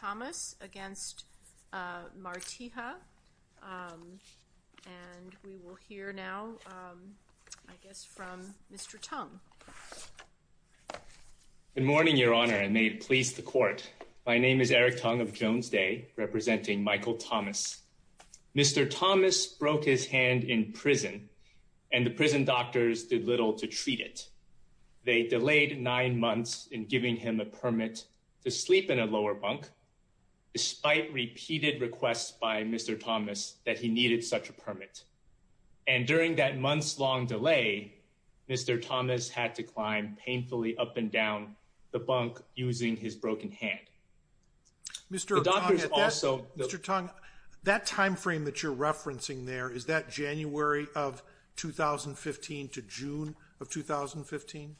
Good morning, Your Honor, and may it please the Court. My name is Eric Tung of Jones Day, representing Michael Thomas. Mr. Thomas broke his hand in prison and the prison doctors did little to treat it. They delayed nine months in giving him a permit to sleep in a lower bunk, despite repeated requests by Mr. Thomas that he needed such a permit. And during that months-long delay, Mr. Thomas had to climb painfully up and down the bunk using his broken hand. Mr. Tung, that time frame that you're referencing there, is that January of 2015 to June of 2015?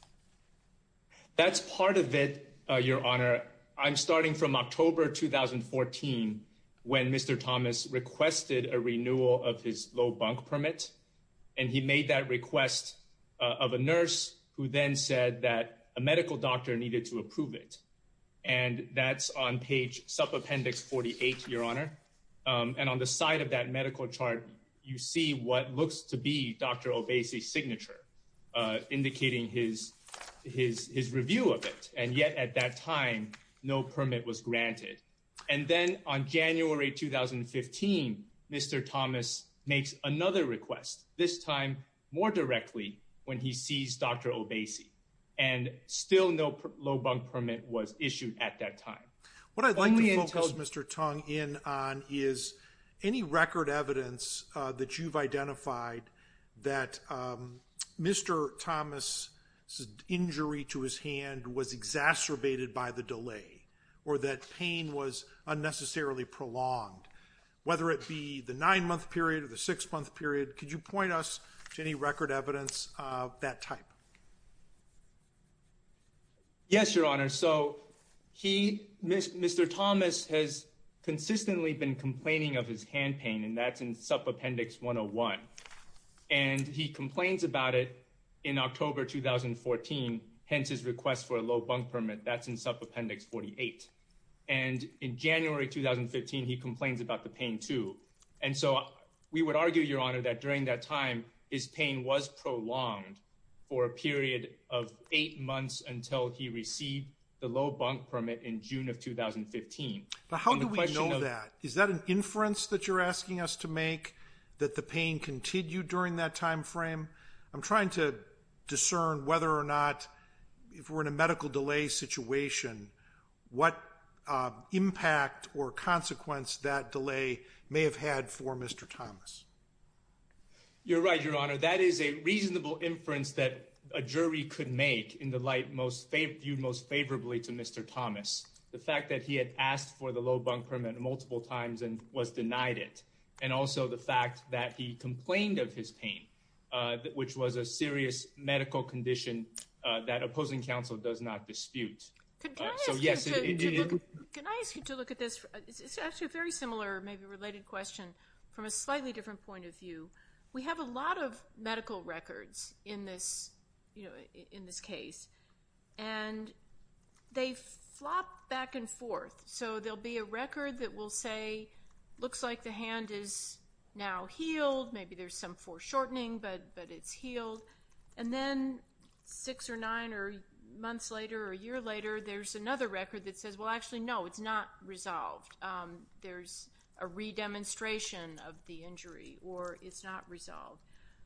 That's part of it, Your Honor. I'm starting from October 2014, when Mr. Thomas requested a renewal of his low bunk permit. And he made that request of a nurse, who then said that a medical doctor needed to approve it. And that's on page sub-appendix 48, Your Honor. And on the side of that medical chart, you see what looks to be Dr. Obese's signature, indicating his review of it. And yet at that time, no permit was granted. And then on January 2015, Mr. Thomas makes another request, this time more directly, when he sees Dr. Obese. And still no low bunk permit was issued at that time. What I'd like to focus Mr. Tung in on is, any record evidence that you've identified that Mr. Thomas' injury to his hand was exacerbated by the delay, or that pain was unnecessarily prolonged, whether it be the nine-month period or the six-month period, could you point us to any record evidence of that type? Yes, Your Honor. So he, Mr. Thomas, has consistently been complaining of his hand pain, and that's in sub-appendix 101. And he complains about it in October 2014, hence his request for a low bunk permit. That's in sub-appendix 48. And in January 2015, he complains about the pain too. And so we would argue, Your Honor, that during that time, his pain was prolonged for a period of eight months until he received the low bunk permit in June of 2015. But how do we know that? Is that an inference that you're asking us to make, that the pain continued during that time frame? I'm trying to discern whether or not, if we're in a medical delay situation, what impact or consequence that delay may have had for Mr. Thomas. You're right, Your Honor. That is a reasonable inference that a jury could make in the light viewed most favorably to Mr. Thomas. The fact that he had asked for the low bunk permit multiple times and was denied it, and also the fact that he complained of his pain, which was a serious medical condition that opposing counsel does not dispute. Can I ask you to look at this? It's actually a very similar, maybe related question, from a slightly different point of view. We have a lot of medical records in this case, and they flop back and forth. So there'll be a record that will say, looks like the hand is now healed. Maybe there's some foreshortening, but it's healed. And then six or nine or months later or a year later, there's another record that says, well, actually, no, it's not resolved. There's a re-demonstration of the injury, or it's not resolved.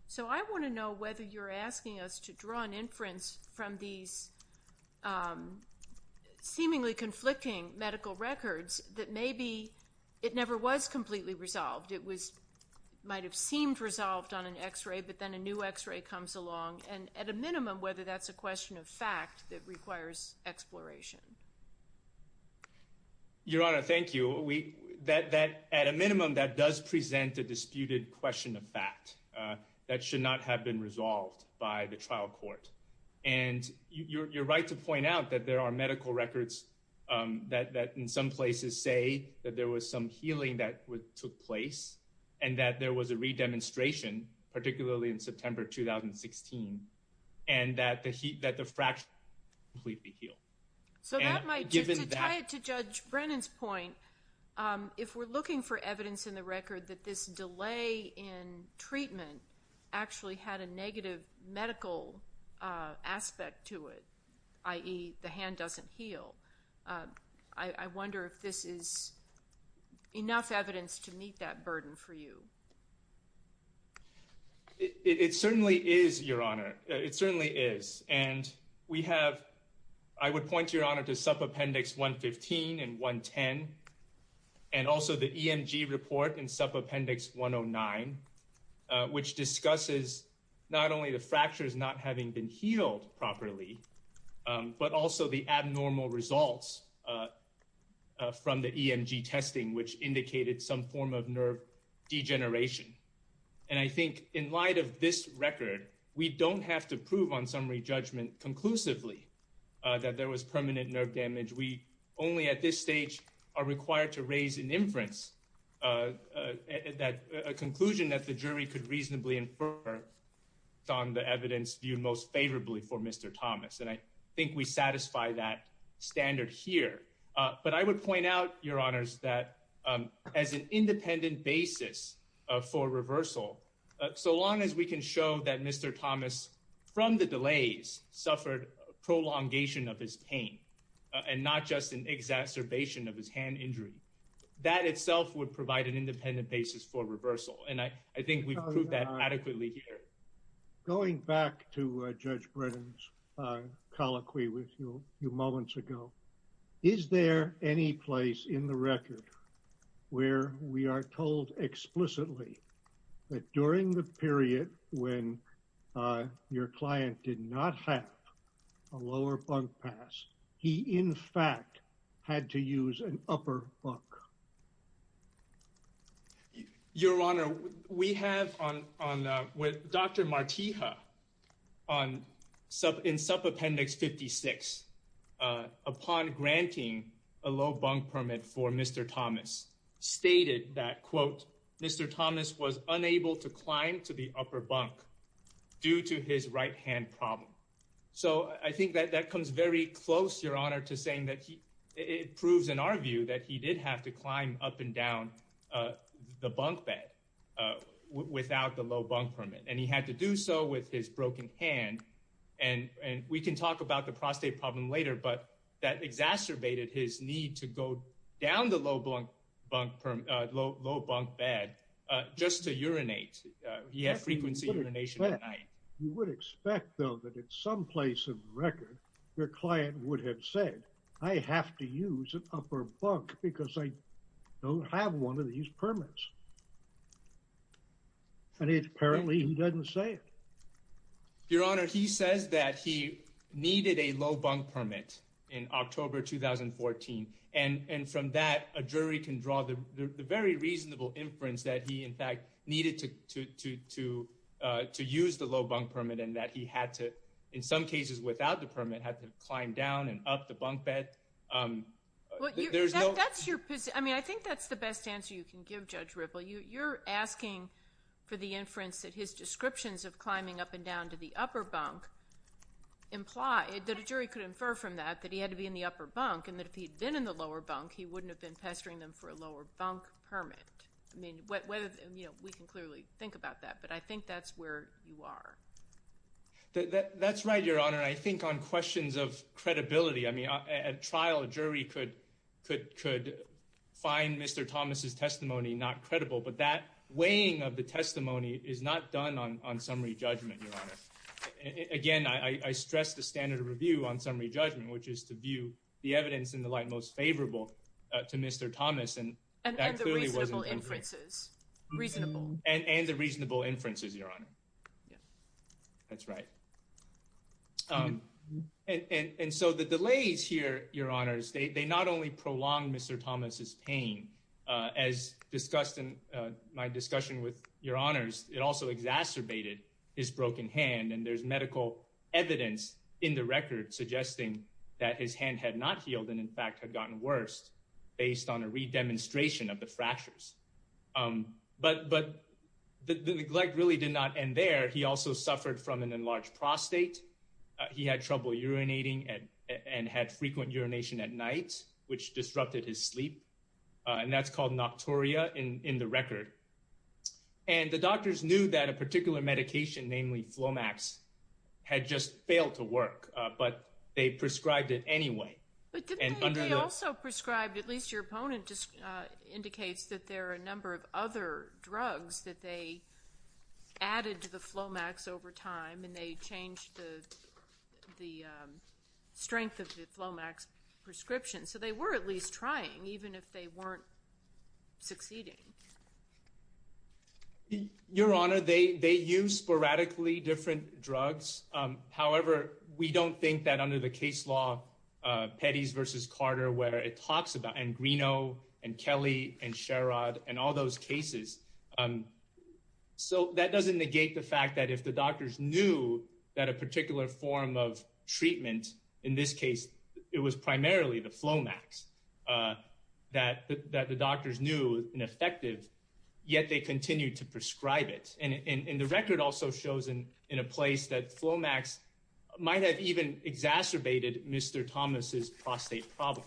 So I want to know whether you're asking us to draw an inference from these seemingly conflicting medical records that maybe it never was completely resolved. It might have seemed resolved on an x-ray, but then a new x-ray comes along. And at a minimum, whether that's a question of fact that requires exploration. Your Honor, thank you. At a minimum, that does present a disputed question of fact that should not have been resolved by the trial court. And you're right to point out that there are medical records that in some places say that there was some healing that took place and that there was a re-demonstration, particularly in September 2016, and that the fracture completely healed. So to tie it to Judge Brennan's point, if we're looking for evidence in the record that this delay in treatment actually had a negative medical aspect to it, i.e. the hand doesn't heal, I wonder if this is enough evidence to meet that burden for you. It certainly is, Your Honor. It certainly is. And we have, I would point, Your Honor, to SUP Appendix 115 and 110, and also the EMG report in SUP Appendix 109, which discusses not only the fractures not having been healed properly, but also the abnormal results from the EMG testing, which indicated some form of nerve degeneration. And I think in light of this record, we don't have to prove on summary judgment conclusively that there was permanent nerve damage. We only at this stage are required to raise an inference, a conclusion that the jury could And I think we satisfy that standard here. But I would point out, Your Honors, that as an independent basis for reversal, so long as we can show that Mr. Thomas, from the delays, suffered prolongation of his pain and not just an exacerbation of his hand injury, that itself would provide an independent basis for reversal. And I think we've proved that adequately here. Going back to Judge Brennan's colloquy with you a few moments ago, is there any place in the record where we are told explicitly that during the period when your client did not have a lower bunk pass, he in fact had to use an upper bunk? Your Honor, we have on with Dr. Martija on in sub appendix 56, upon granting a low bunk permit for Mr. Thomas, stated that, quote, Mr. Thomas was unable to climb to the upper bunk due to his right hand problem. So I think that that comes very close, Your Honor, to saying that it proves in our view that he did have to climb up and down the bunk bed without the low bunk permit, and he had to do so with his broken hand. And we can talk about the prostate problem later, but that exacerbated his need to go down the low bunk bed just to urinate. He had frequency urination at night. You would expect, though, that in some place of record, your client would have said, I have to use an upper bunk because I don't have one of these permits. And it's apparently he doesn't say it. Your Honor, he says that he needed a low bunk permit in October 2014. And from that, a jury can draw the very reasonable inference that he, in fact, needed to use the low bunk permit and that he had to, in some cases without the permit, had to climb down and up the bunk bed. I mean, I think that's the best answer you can give Judge Ripple. You're asking for the inference that his descriptions of climbing up and down to the upper bunk imply that a jury could infer from that that he had to be in the upper bunk and that if he'd been in the lower bunk, he wouldn't have been pestering them for a lower bunk permit. I mean, we can clearly think about that, but I think that's where you are. That's right, Your Honor. And I think on questions of credibility, I mean, at trial, a jury could find Mr. Thomas's testimony not credible. But that weighing of the testimony is not done on summary judgment, Your Honor. Again, I stress the standard of review on summary judgment, which is to view the evidence in the light most favorable to Mr. Thomas. And that clearly wasn't perfect. And the reasonable inferences. Reasonable. And the reasonable inferences, Your Honor. That's right. And so the delays here, Your Honors, they not only prolonged Mr. Thomas's pain, as discussed in my discussion with Your Honors, it also exacerbated his broken hand. And there's medical evidence in the record suggesting that his hand had not healed and, in fact, had gotten worse based on a redemonstration of the fractures. But the neglect really did not end there. He also suffered from an enlarged prostate. He had trouble urinating and had frequent urination at night, which disrupted his sleep. And that's called nocturia in the record. And the doctors knew that a particular medication, namely Flomax, had just failed to work. But they prescribed it anyway. But didn't they also prescribe, at least your opponent indicates that there are a number of other drugs that they added to the Flomax over time. And they changed the strength of the Flomax prescription. So they were at least trying, even if they weren't succeeding. Your Honor, they use sporadically different drugs. However, we don't think that under the case law, Petty's versus Carter, where it talks and Greeno and Kelly and Sherrod and all those cases. So that doesn't negate the fact that if the doctors knew that a particular form of treatment, in this case, it was primarily the Flomax, that the doctors knew and effective, yet they continued to prescribe it. And the record also shows in a place that Flomax might have even exacerbated Mr. Thomas's prostate problem.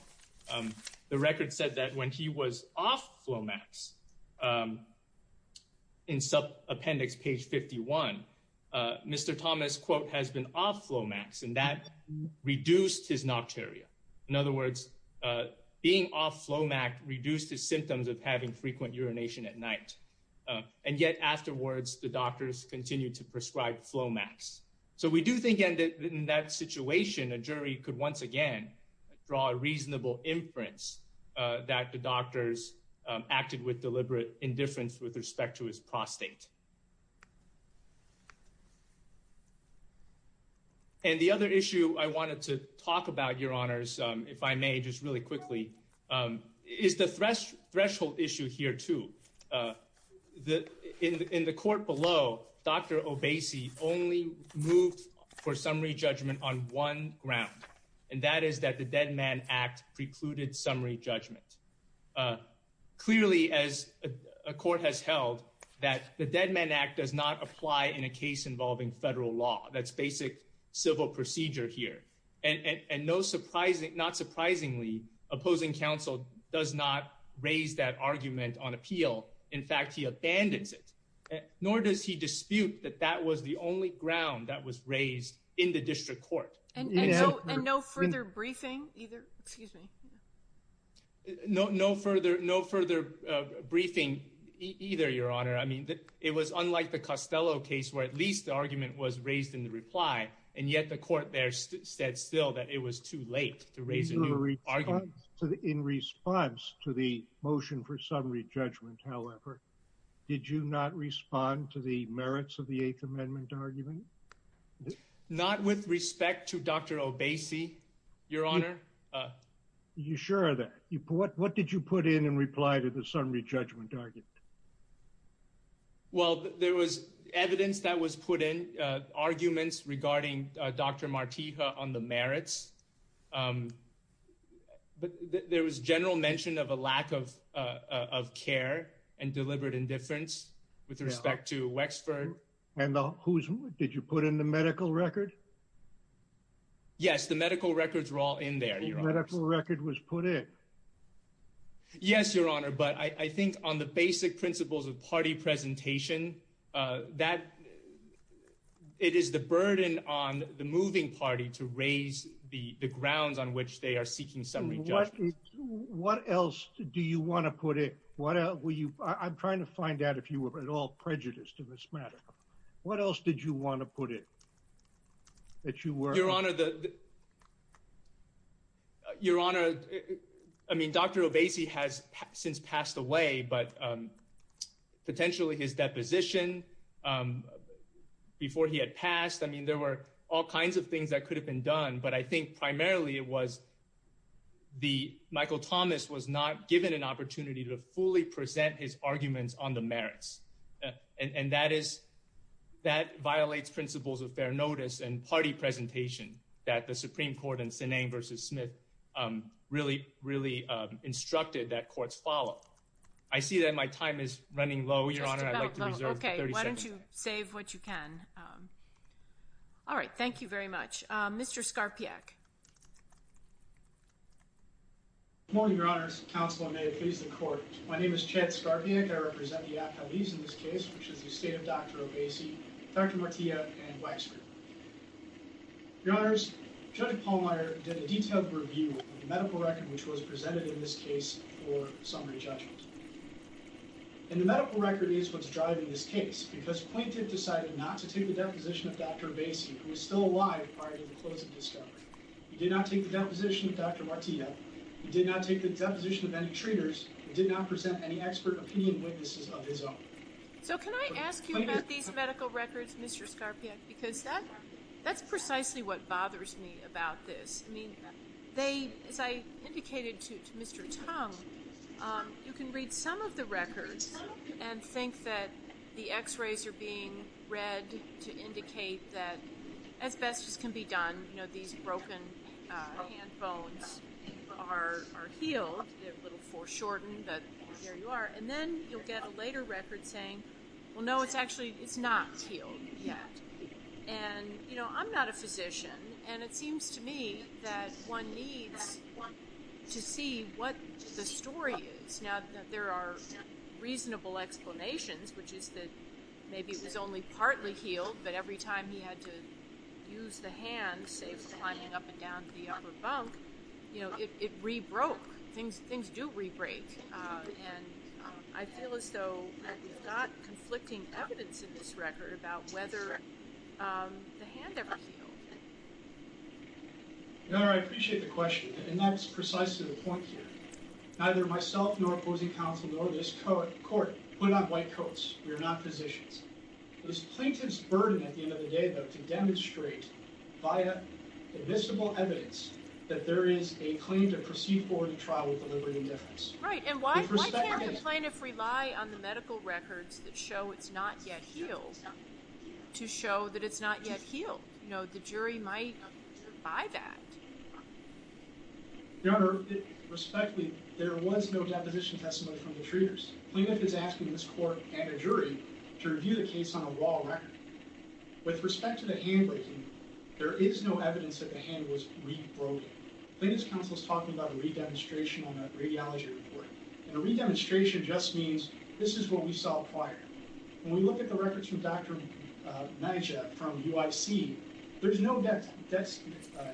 The record said that when he was off Flomax, in appendix page 51, Mr. Thomas, quote, has been off Flomax. And that reduced his nocturia. In other words, being off Flomax reduced the symptoms of having frequent urination at night. And yet afterwards, the doctors continued to prescribe Flomax. So we do think in that situation, a jury could once again draw a reasonable inference that the doctors acted with deliberate indifference with respect to his prostate. And the other issue I wanted to talk about, Your Honors, if I may, just really quickly, is the threshold issue here too. In the court below, Dr. Obese only moved for summary judgment on one ground. And that is that the Dead Man Act precluded summary judgment. Clearly, as a court has held that the Dead Man Act does not apply in a case involving federal law, that's basic civil procedure here. And not surprisingly, opposing counsel does not raise that argument on appeal. In fact, he abandons it. Nor does he dispute that that was the only ground that was raised in the district court. And no further briefing either? Excuse me. No further briefing either, Your Honor. I mean, it was unlike the Costello case where at least the argument was raised in the reply. And yet the court there said still that it was too late to raise a new argument. In response to the motion for summary judgment, however, did you not respond to the merits of the Eighth Amendment argument? Not with respect to Dr. Obese, Your Honor. You sure of that? What did you put in in reply to the summary judgment argument? Well, there was evidence that was put in, arguments regarding Dr. Martija on the merits. But there was general mention of a lack of care and deliberate indifference with respect to Wexford. And did you put in the medical record? Yes, the medical records were all in there, Your Honor. The medical record was put in? Yes, Your Honor. But I think on the basic principles of party presentation, it is the burden on the moving party to raise the grounds on which they are seeking summary judgment. What else do you want to put in? I'm trying to find out if you were at all prejudiced in this matter. What else did you want to put in that you were? Your Honor, I mean, Dr. Obese has since passed away, but potentially his deposition before he had passed, I mean, there were all kinds of things that could have been done. But I think primarily it was Michael Thomas was not given an opportunity to fully present his arguments on the merits. And that violates principles of fair notice and party presentation that the Supreme Court in Sinang v. Smith really, really instructed that courts follow. I see that my time is running low, Your Honor. I'd like to reserve 30 seconds. Just about, okay. Why don't you save what you can. All right. Thank you very much. Mr. Skarpiak. Good morning, Your Honors. Counselor, may it please the Court. My name is Chad Skarpiak. I represent the athletes in this case, which is the state of Dr. Obese, Dr. Martillo, and Wexford. Your Honors, Judge Pallmeyer did a detailed review of the medical record which was presented in this case for summary judgment. And the medical record is what's driving this case because plaintiff decided not to take the deposition of Dr. Obese, who was still alive prior to the close of discovery. He did not take the deposition of Dr. Martillo. He did not take the deposition of any trainers. He did not present any expert opinion witnesses of his own. So can I ask you about these medical records, Mr. Skarpiak, because that's precisely what bothers me about this. I mean, they, as I indicated to Mr. Tong, you can read some of the records and think that the x-rays are being read to indicate that asbestos can be done. You know, these broken hand bones are healed. They're a little foreshortened, but there you are. And then you'll get a later record saying, well, no, it's actually, it's not healed yet. And, you know, I'm not a physician, and it seems to me that one needs to see what the story is. Now, there are reasonable explanations, which is that maybe it was only partly healed, but every time he had to use the hand, say, climbing up and down the upper bunk, you know, it rebroke. Things do rebreak. And I feel as though we've got conflicting evidence in this record about whether the hand ever healed. Your Honor, I appreciate the question, and that's precisely the point here. Neither myself, nor opposing counsel, nor this court put on white coats. We are not physicians. It was plaintiff's burden at the end of the day, though, to demonstrate via admissible evidence that there is a claim to proceed forward in trial with deliberate indifference. Right, and why can't the plaintiff rely on the medical records that show it's not yet healed to show that it's not yet healed? You know, the jury might buy that. Your Honor, respectfully, there was no deposition testimony from the treaters. Plaintiff is asking this court and a jury to review the case on a raw record. With respect to the hand breaking, there is no evidence that the hand was rebroken. Plaintiff's counsel is talking about a re-demonstration on a radiology report, and a re-demonstration just means this is what we saw prior. When we look at the records from Dr. Naja from UIC, there's no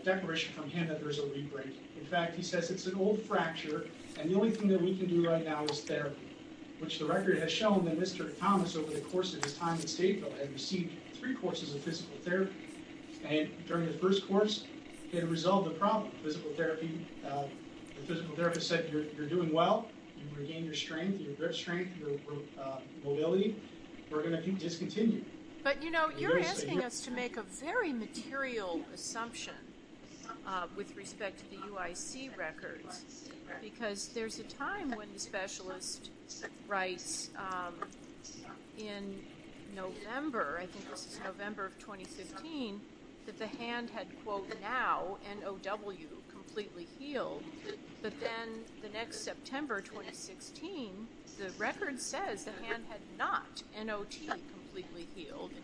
declaration from him that there's a re-breaking. In fact, he says it's an old fracture, and the only thing that we can do right now is therapy, which the record has shown that Mr. Thomas, over the course of his time in Stateville, had received three courses of physical therapy, and during the first course, had resolved the problem of physical therapy. The physical therapist said, you're doing well. You've regained your strength, your grip strength, your mobility. We're going to discontinue. But, you know, you're asking us to make a very material assumption with respect to the UIC records, because there's a time when the specialist writes in November, I think this is November of 2015, that the hand had, quote, now, N-O-W, completely healed, but then the next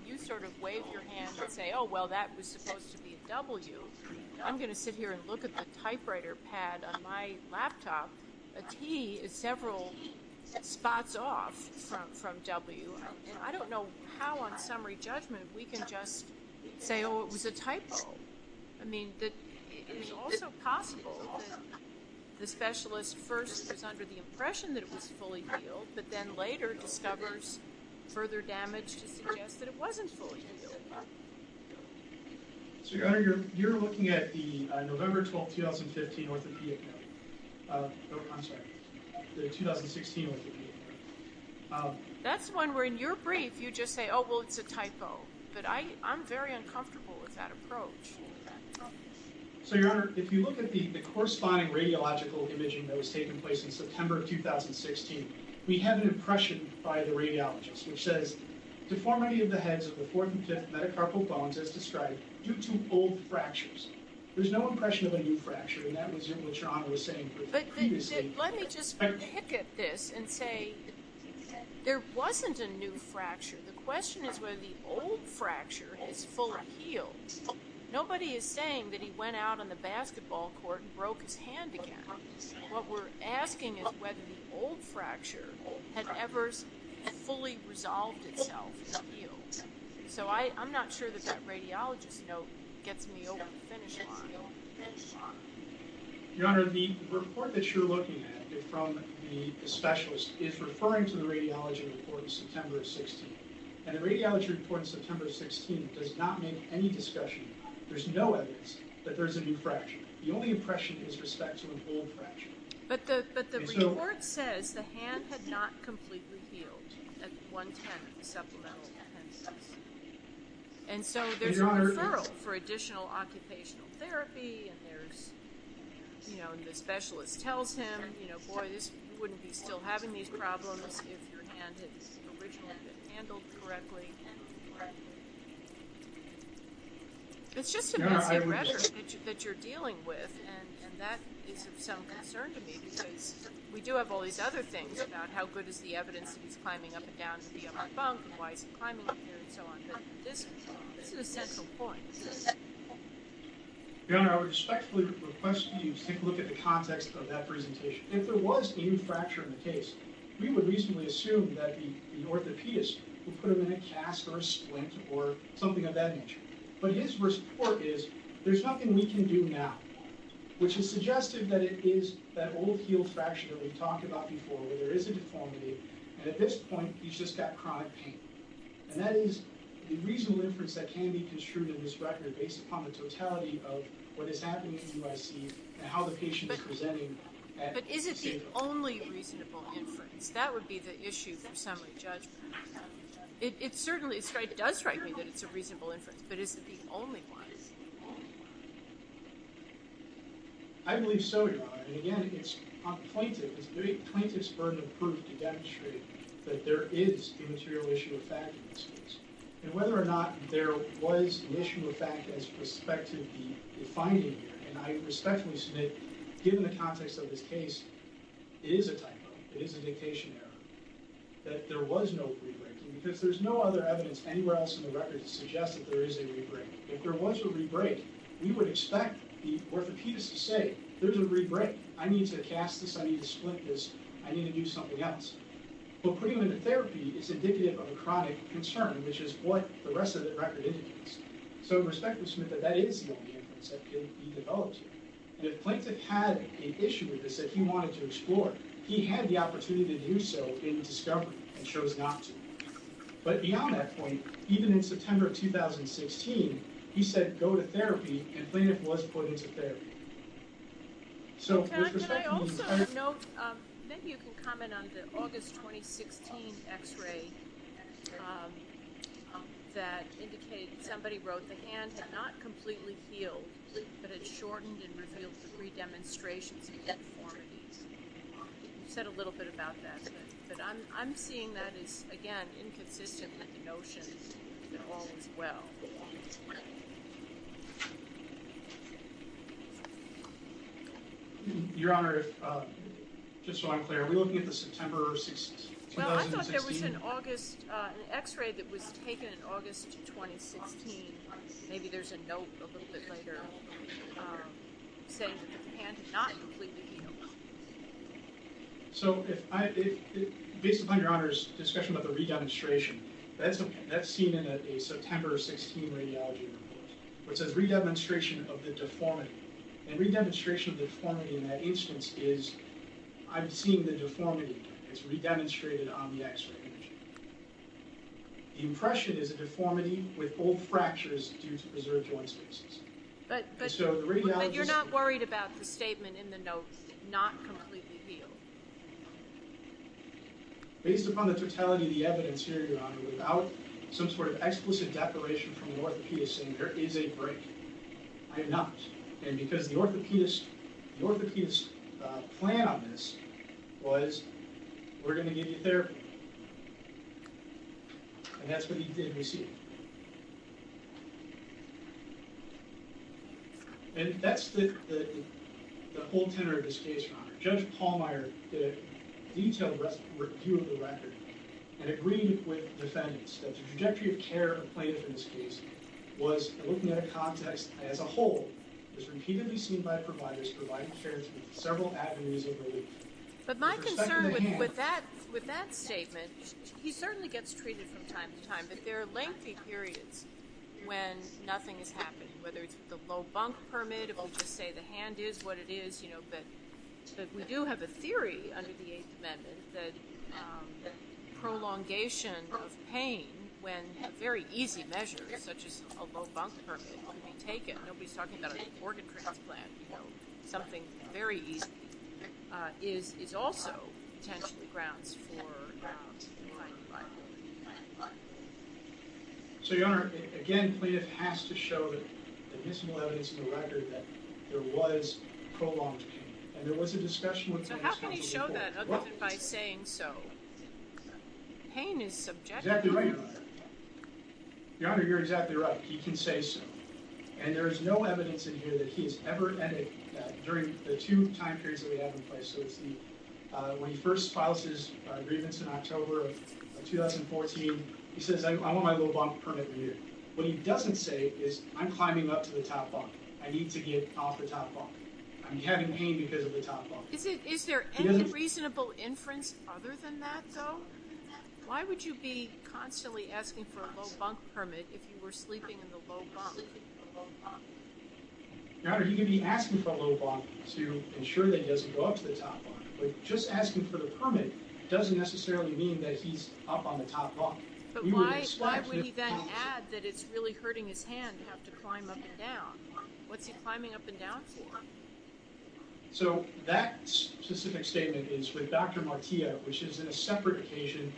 you sort of wave your hand and say, oh, well, that was supposed to be a W. I'm going to sit here and look at the typewriter pad on my laptop. A T is several spots off from W, and I don't know how, on summary judgment, we can just say, oh, it was a typo. I mean, it's also possible that the specialist first is under the impression that it was fully healed, but then later discovers further damage to suggest that it wasn't fully healed. So, Your Honor, you're looking at the November 12, 2015 orthopedic note. I'm sorry, the 2016 orthopedic note. That's one where in your brief, you just say, oh, well, it's a typo. But I'm very uncomfortable with that approach. So, Your Honor, if you look at the corresponding radiological imaging that was taking place in which says, deformity of the heads of the fourth and fifth metacarpal bones, as described, due to old fractures. There's no impression of a new fracture, and that was what Your Honor was saying previously. But let me just pick at this and say, there wasn't a new fracture. The question is whether the old fracture has fully healed. Nobody is saying that he went out on the basketball court and broke his hand again. What we're asking is whether the old fracture had ever fully resolved itself to heal. So, I'm not sure that that radiologist note gets me over the finish line. Your Honor, the report that you're looking at from the specialist is referring to the radiology report in September of 16. And the radiology report in September of 16 does not include any discussion. There's no evidence that there's a new fracture. The only impression is respect to an old fracture. But the report says the hand had not completely healed at 110 supplemental defenses. And so there's a referral for additional occupational therapy, and there's, you know, and the specialist tells him, you know, boy, this wouldn't be still having these problems if your hand had originally been handled correctly. It's just a matter that you're dealing with, and that is of some concern to me because we do have all these other things about how good is the evidence that he's climbing up and down the bunk and why he's climbing up here and so on. But this is a central point. Your Honor, I would respectfully request that you take a look at the context of that presentation. If there was a new fracture, I would reasonably assume that the orthopedist would put him in a cast or a splint or something of that nature. But his report is, there's nothing we can do now, which is suggestive that it is that old healed fracture that we've talked about before where there is a deformity, and at this point, he's just got chronic pain. And that is the reasonable inference that can be construed in this record based upon the totality of what is happening in UIC and how patient is presenting at this table. But is it the only reasonable inference? That would be the issue for summary judgment. It certainly does strike me that it's a reasonable inference, but is it the only one? I believe so, Your Honor. And again, it's plaintiff's burden of proof to demonstrate that there is the material issue of fact in this case. And whether or not there was an issue of fact as prospectively defined in here, and I respectfully submit, given the context of this case, it is a typo. It is a dictation error that there was no rebraking because there's no other evidence anywhere else in the record to suggest that there is a rebrake. If there was a rebrake, we would expect the orthopedist to say, there's a rebrake. I need to cast this. I need to splint this. I need to do something else. But putting him into therapy is ridiculous. So I respectfully submit that that is the only inference that can be developed here. And if plaintiff had an issue with this that he wanted to explore, he had the opportunity to do so in discovery and chose not to. But beyond that point, even in September of 2016, he said, go to therapy, and plaintiff was put into therapy. So with respect to the entire- somebody wrote, the hand had not completely healed, but it shortened and revealed three demonstrations of deformities. You said a little bit about that, but I'm seeing that as, again, inconsistent with the notion that all is well. Your Honor, just so I'm clear, are we looking at the September of 2016? Well, I thought there was an x-ray that was taken in August of 2016. Maybe there's a note a little bit later saying that the hand had not completely healed. So based upon Your Honor's discussion about the re-demonstration, that's seen in a September of 2016 radiology report, which says re-demonstration of the deformity. And re-demonstration of the deformity is re-demonstrated on the x-ray image. The impression is a deformity with old fractures due to preserved joint spaces. But you're not worried about the statement in the note, not completely healed? Based upon the totality of the evidence here, Your Honor, without some sort of explicit declaration from an orthopedist saying there is a break, I am not. And because the orthopedist's plan on this was, we're going to give you therapy. And that's what he did receive. And that's the whole tenor of this case, Your Honor. Judge Pallmeyer did a detailed review of the record and agreed with defendants that the trajectory of care and plaintiff in this case was, looking at a context as a whole, was repeatedly seen by providers providing care through several avenues of relief. But my concern with that statement, he certainly gets treated from time to time, but there are lengthy periods when nothing is happening. Whether it's with a low bunk permit, it will just say the hand is what it is, you know. But we do have a theory under the Eighth Amendment that prolongation of pain when very easy measures, such as a low bunk permit, can be taken. Nobody's talking about an organ transplant, you know. Something very easy is also potentially grounds for a minor liability. So, Your Honor, again, plaintiff has to show that there is some evidence in the record that there was prolonged pain. There was a discussion with plaintiffs. So how can he show that other than by saying so? Pain is subjective. Exactly right, Your Honor. Your Honor, you're exactly right. He can say so. And there is no evidence in here that he has ever added that during the two time periods that we have in place. So it's the, when he first files his grievance in October of 2014, he says, I want my low bunk permit renewed. What he doesn't say is, I'm climbing up to the top bunk. I need to get off the top bunk. I'm having pain because of the top bunk. Is there any reasonable inference other than that, though? Why would you be constantly asking for a low bunk permit if you were sleeping in the low bunk? Your Honor, he could be asking for a low bunk to ensure that he doesn't go up to the top bunk. But just asking for the permit doesn't necessarily mean that he's up on the top bunk. But why would he then add that it's really hurting his hand to have to climb up and down? What's he climbing up and down for? So that specific statement is with Dr. Martillo, which is in a separate occasion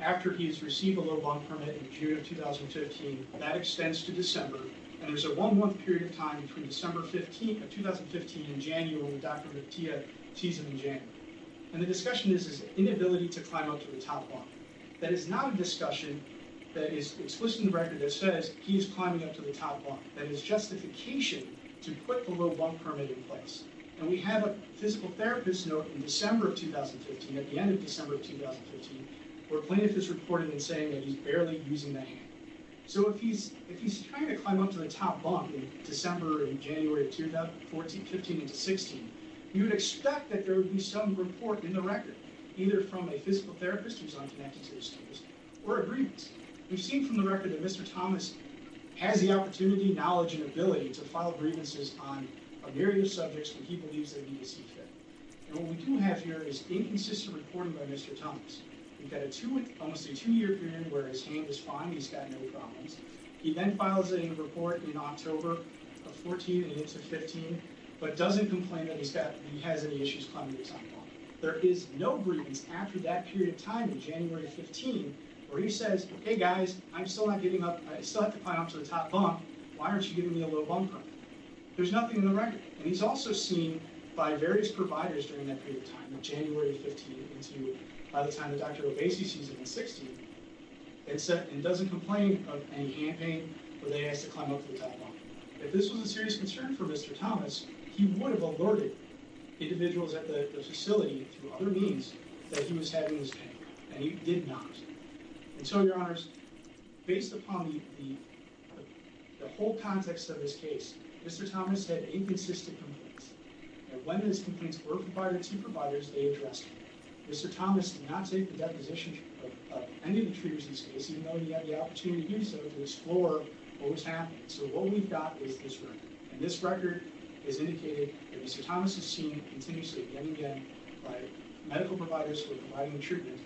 after he's received a low bunk permit in June of 2015. That extends to December. And there's a one month period of time between December 15th of 2015 in January when Dr. Martillo sees him in January. And the discussion is his inability to climb up to the top bunk. That is not a discussion that is explicit in the record that says he is climbing up to the top bunk. That is justification to put the low bunk permit in place. And we have a physical therapist note in December of 2015, at the end of December of 2015, where plaintiff is reporting and saying that he's barely using the hand. So if he's trying to climb up to the top bunk in December, in January of 2015 into 16, you would expect that there would be some report in the record, either from a physical therapist who's not connected to this case, or a grievance. We've seen from the record that Mr. Thomas has the opportunity, knowledge, and ability to file grievances on a myriad of subjects when he believes they need to see fit. And what we do have here is inconsistent reporting by Mr. Thomas. We've got a two, almost a two-year period where his hand is fine, he's got no problems. He then files a report in October of 14 and into 15, but doesn't complain that he's got, he has any issues climbing the top bunk. There is no grievance after that period of time in January of 15, where he says, hey guys, I'm still not getting up, I still have to climb up to the top bunk, why aren't you giving me a little bumper? There's nothing in the record. And he's also seen by various providers during that period of time, in January of 15, into by the time that Dr. Obasi sees him in 16, and said, and doesn't complain of any hand pain where they asked to climb up to the top bunk. If this was a serious concern for Mr. Thomas, he would have alerted individuals at the facility through other means that he was having this pain, and he did not. And so, your honors, based upon the whole context of this case, Mr. Thomas had inconsistent complaints, and when his complaints were filed to providers, they addressed them. Mr. Thomas did not take the deposition of any of the treaters in this case, even though he had the opportunity to do so to explore what was happening. So what we've got is this record, and this record has indicated that Mr. Thomas is seen continuously again and again by medical providers who are providing treatment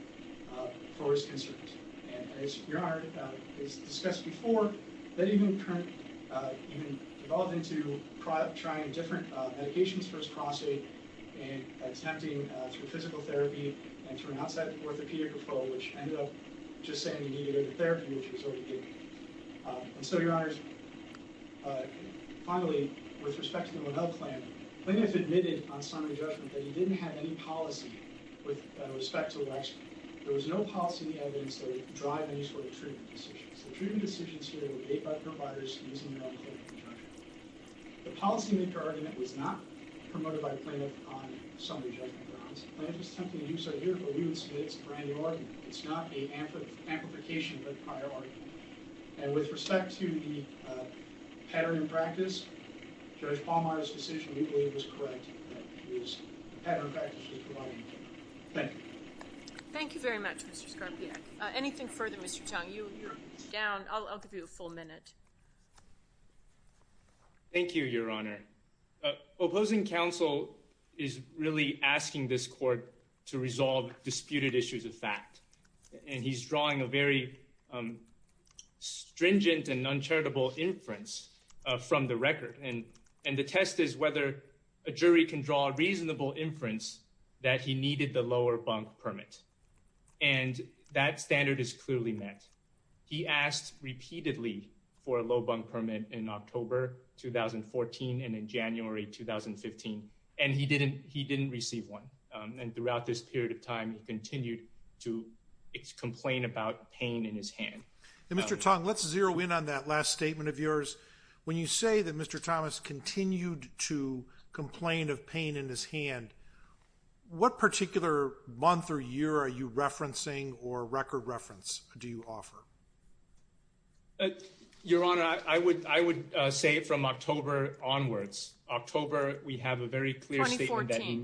for his concerns. And as your honor has discussed before, that even developed into trying different medications for his prostate, and attempting through physical therapy, and through an outside orthopedic referral, which ended up just saying he needed a therapy, which he was already getting. And so, your honors, finally, with respect to the record, there was no policy in the evidence that would drive any sort of treatment decisions. The treatment decisions here were made by providers using their own clinical judgment. The policymaker argument was not promoted by Plaintiff on summary judgment grounds. Plaintiff is attempting to use our year-over-year estimates for any argument. It's not an amplification of a prior argument. And with respect to the pattern in practice, Judge Pallmeyer's decision, we believe, was correct, was a pattern of practice. Thank you. Thank you very much, Mr. Skarpiak. Anything further, Mr. Chung? You're down. I'll give you a full minute. Thank you, your honor. Opposing counsel is really asking this court to resolve disputed issues of fact, and he's drawing a very stringent and uncharitable inference from the record. And the test is whether a jury can draw a reasonable inference that he needed the lower bunk permit. And that standard is clearly met. He asked repeatedly for a low bunk permit in October 2014 and in January 2015, and he didn't receive one. And throughout this period of time, he continued to complain about pain in his hand. Mr. Tong, let's zero in on that last statement of yours. When you say that Mr. Thomas continued to complain of pain in his hand, what particular month or year are you referencing or record reference do you offer? Your honor, I would say from October onwards. October, we have a very clear statement that he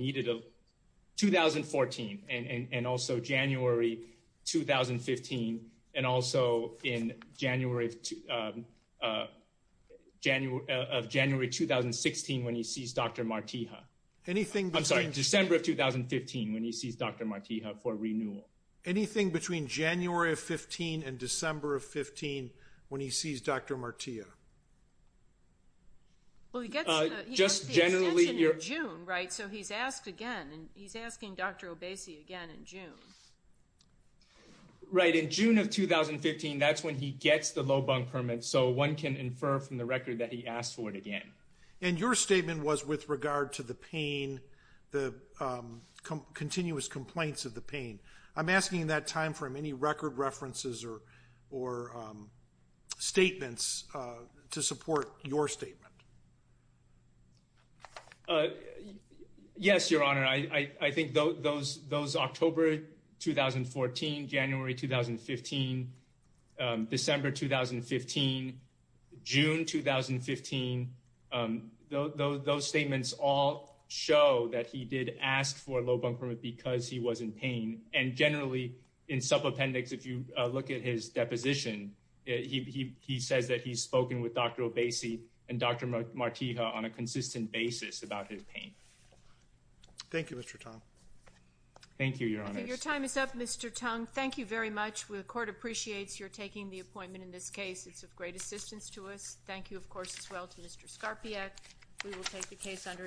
January of January 2016 when he sees Dr. Martiha. I'm sorry, December of 2015 when he sees Dr. Martiha for renewal. Anything between January of 15 and December of 15 when he sees Dr. Martiha? Well, he gets the extension in June, right? So he's asking Dr. Obese again in June. Right. In June of 2015, that's when he gets the low bunk permit. So one can infer from the record that he asked for it again. And your statement was with regard to the pain, the continuous complaints of the pain. I'm asking that time from any record references or or statements to support your statement. Yes, your honor, I think those October 2014, January 2015, December 2015, June 2015. Those statements all show that he did ask for a low bunk permit because he was in pain. And generally, in sub appendix, if you look at his deposition, he says that he's spoken with Dr. Martiha on a consistent basis about his pain. Thank you, Mr. Tong. Thank you, your honor. Your time is up, Mr. Tong. Thank you very much. The court appreciates your taking the appointment in this case. It's of great assistance to us. Thank you, of course, as well to Mr. Skarpiak. We will take the case under.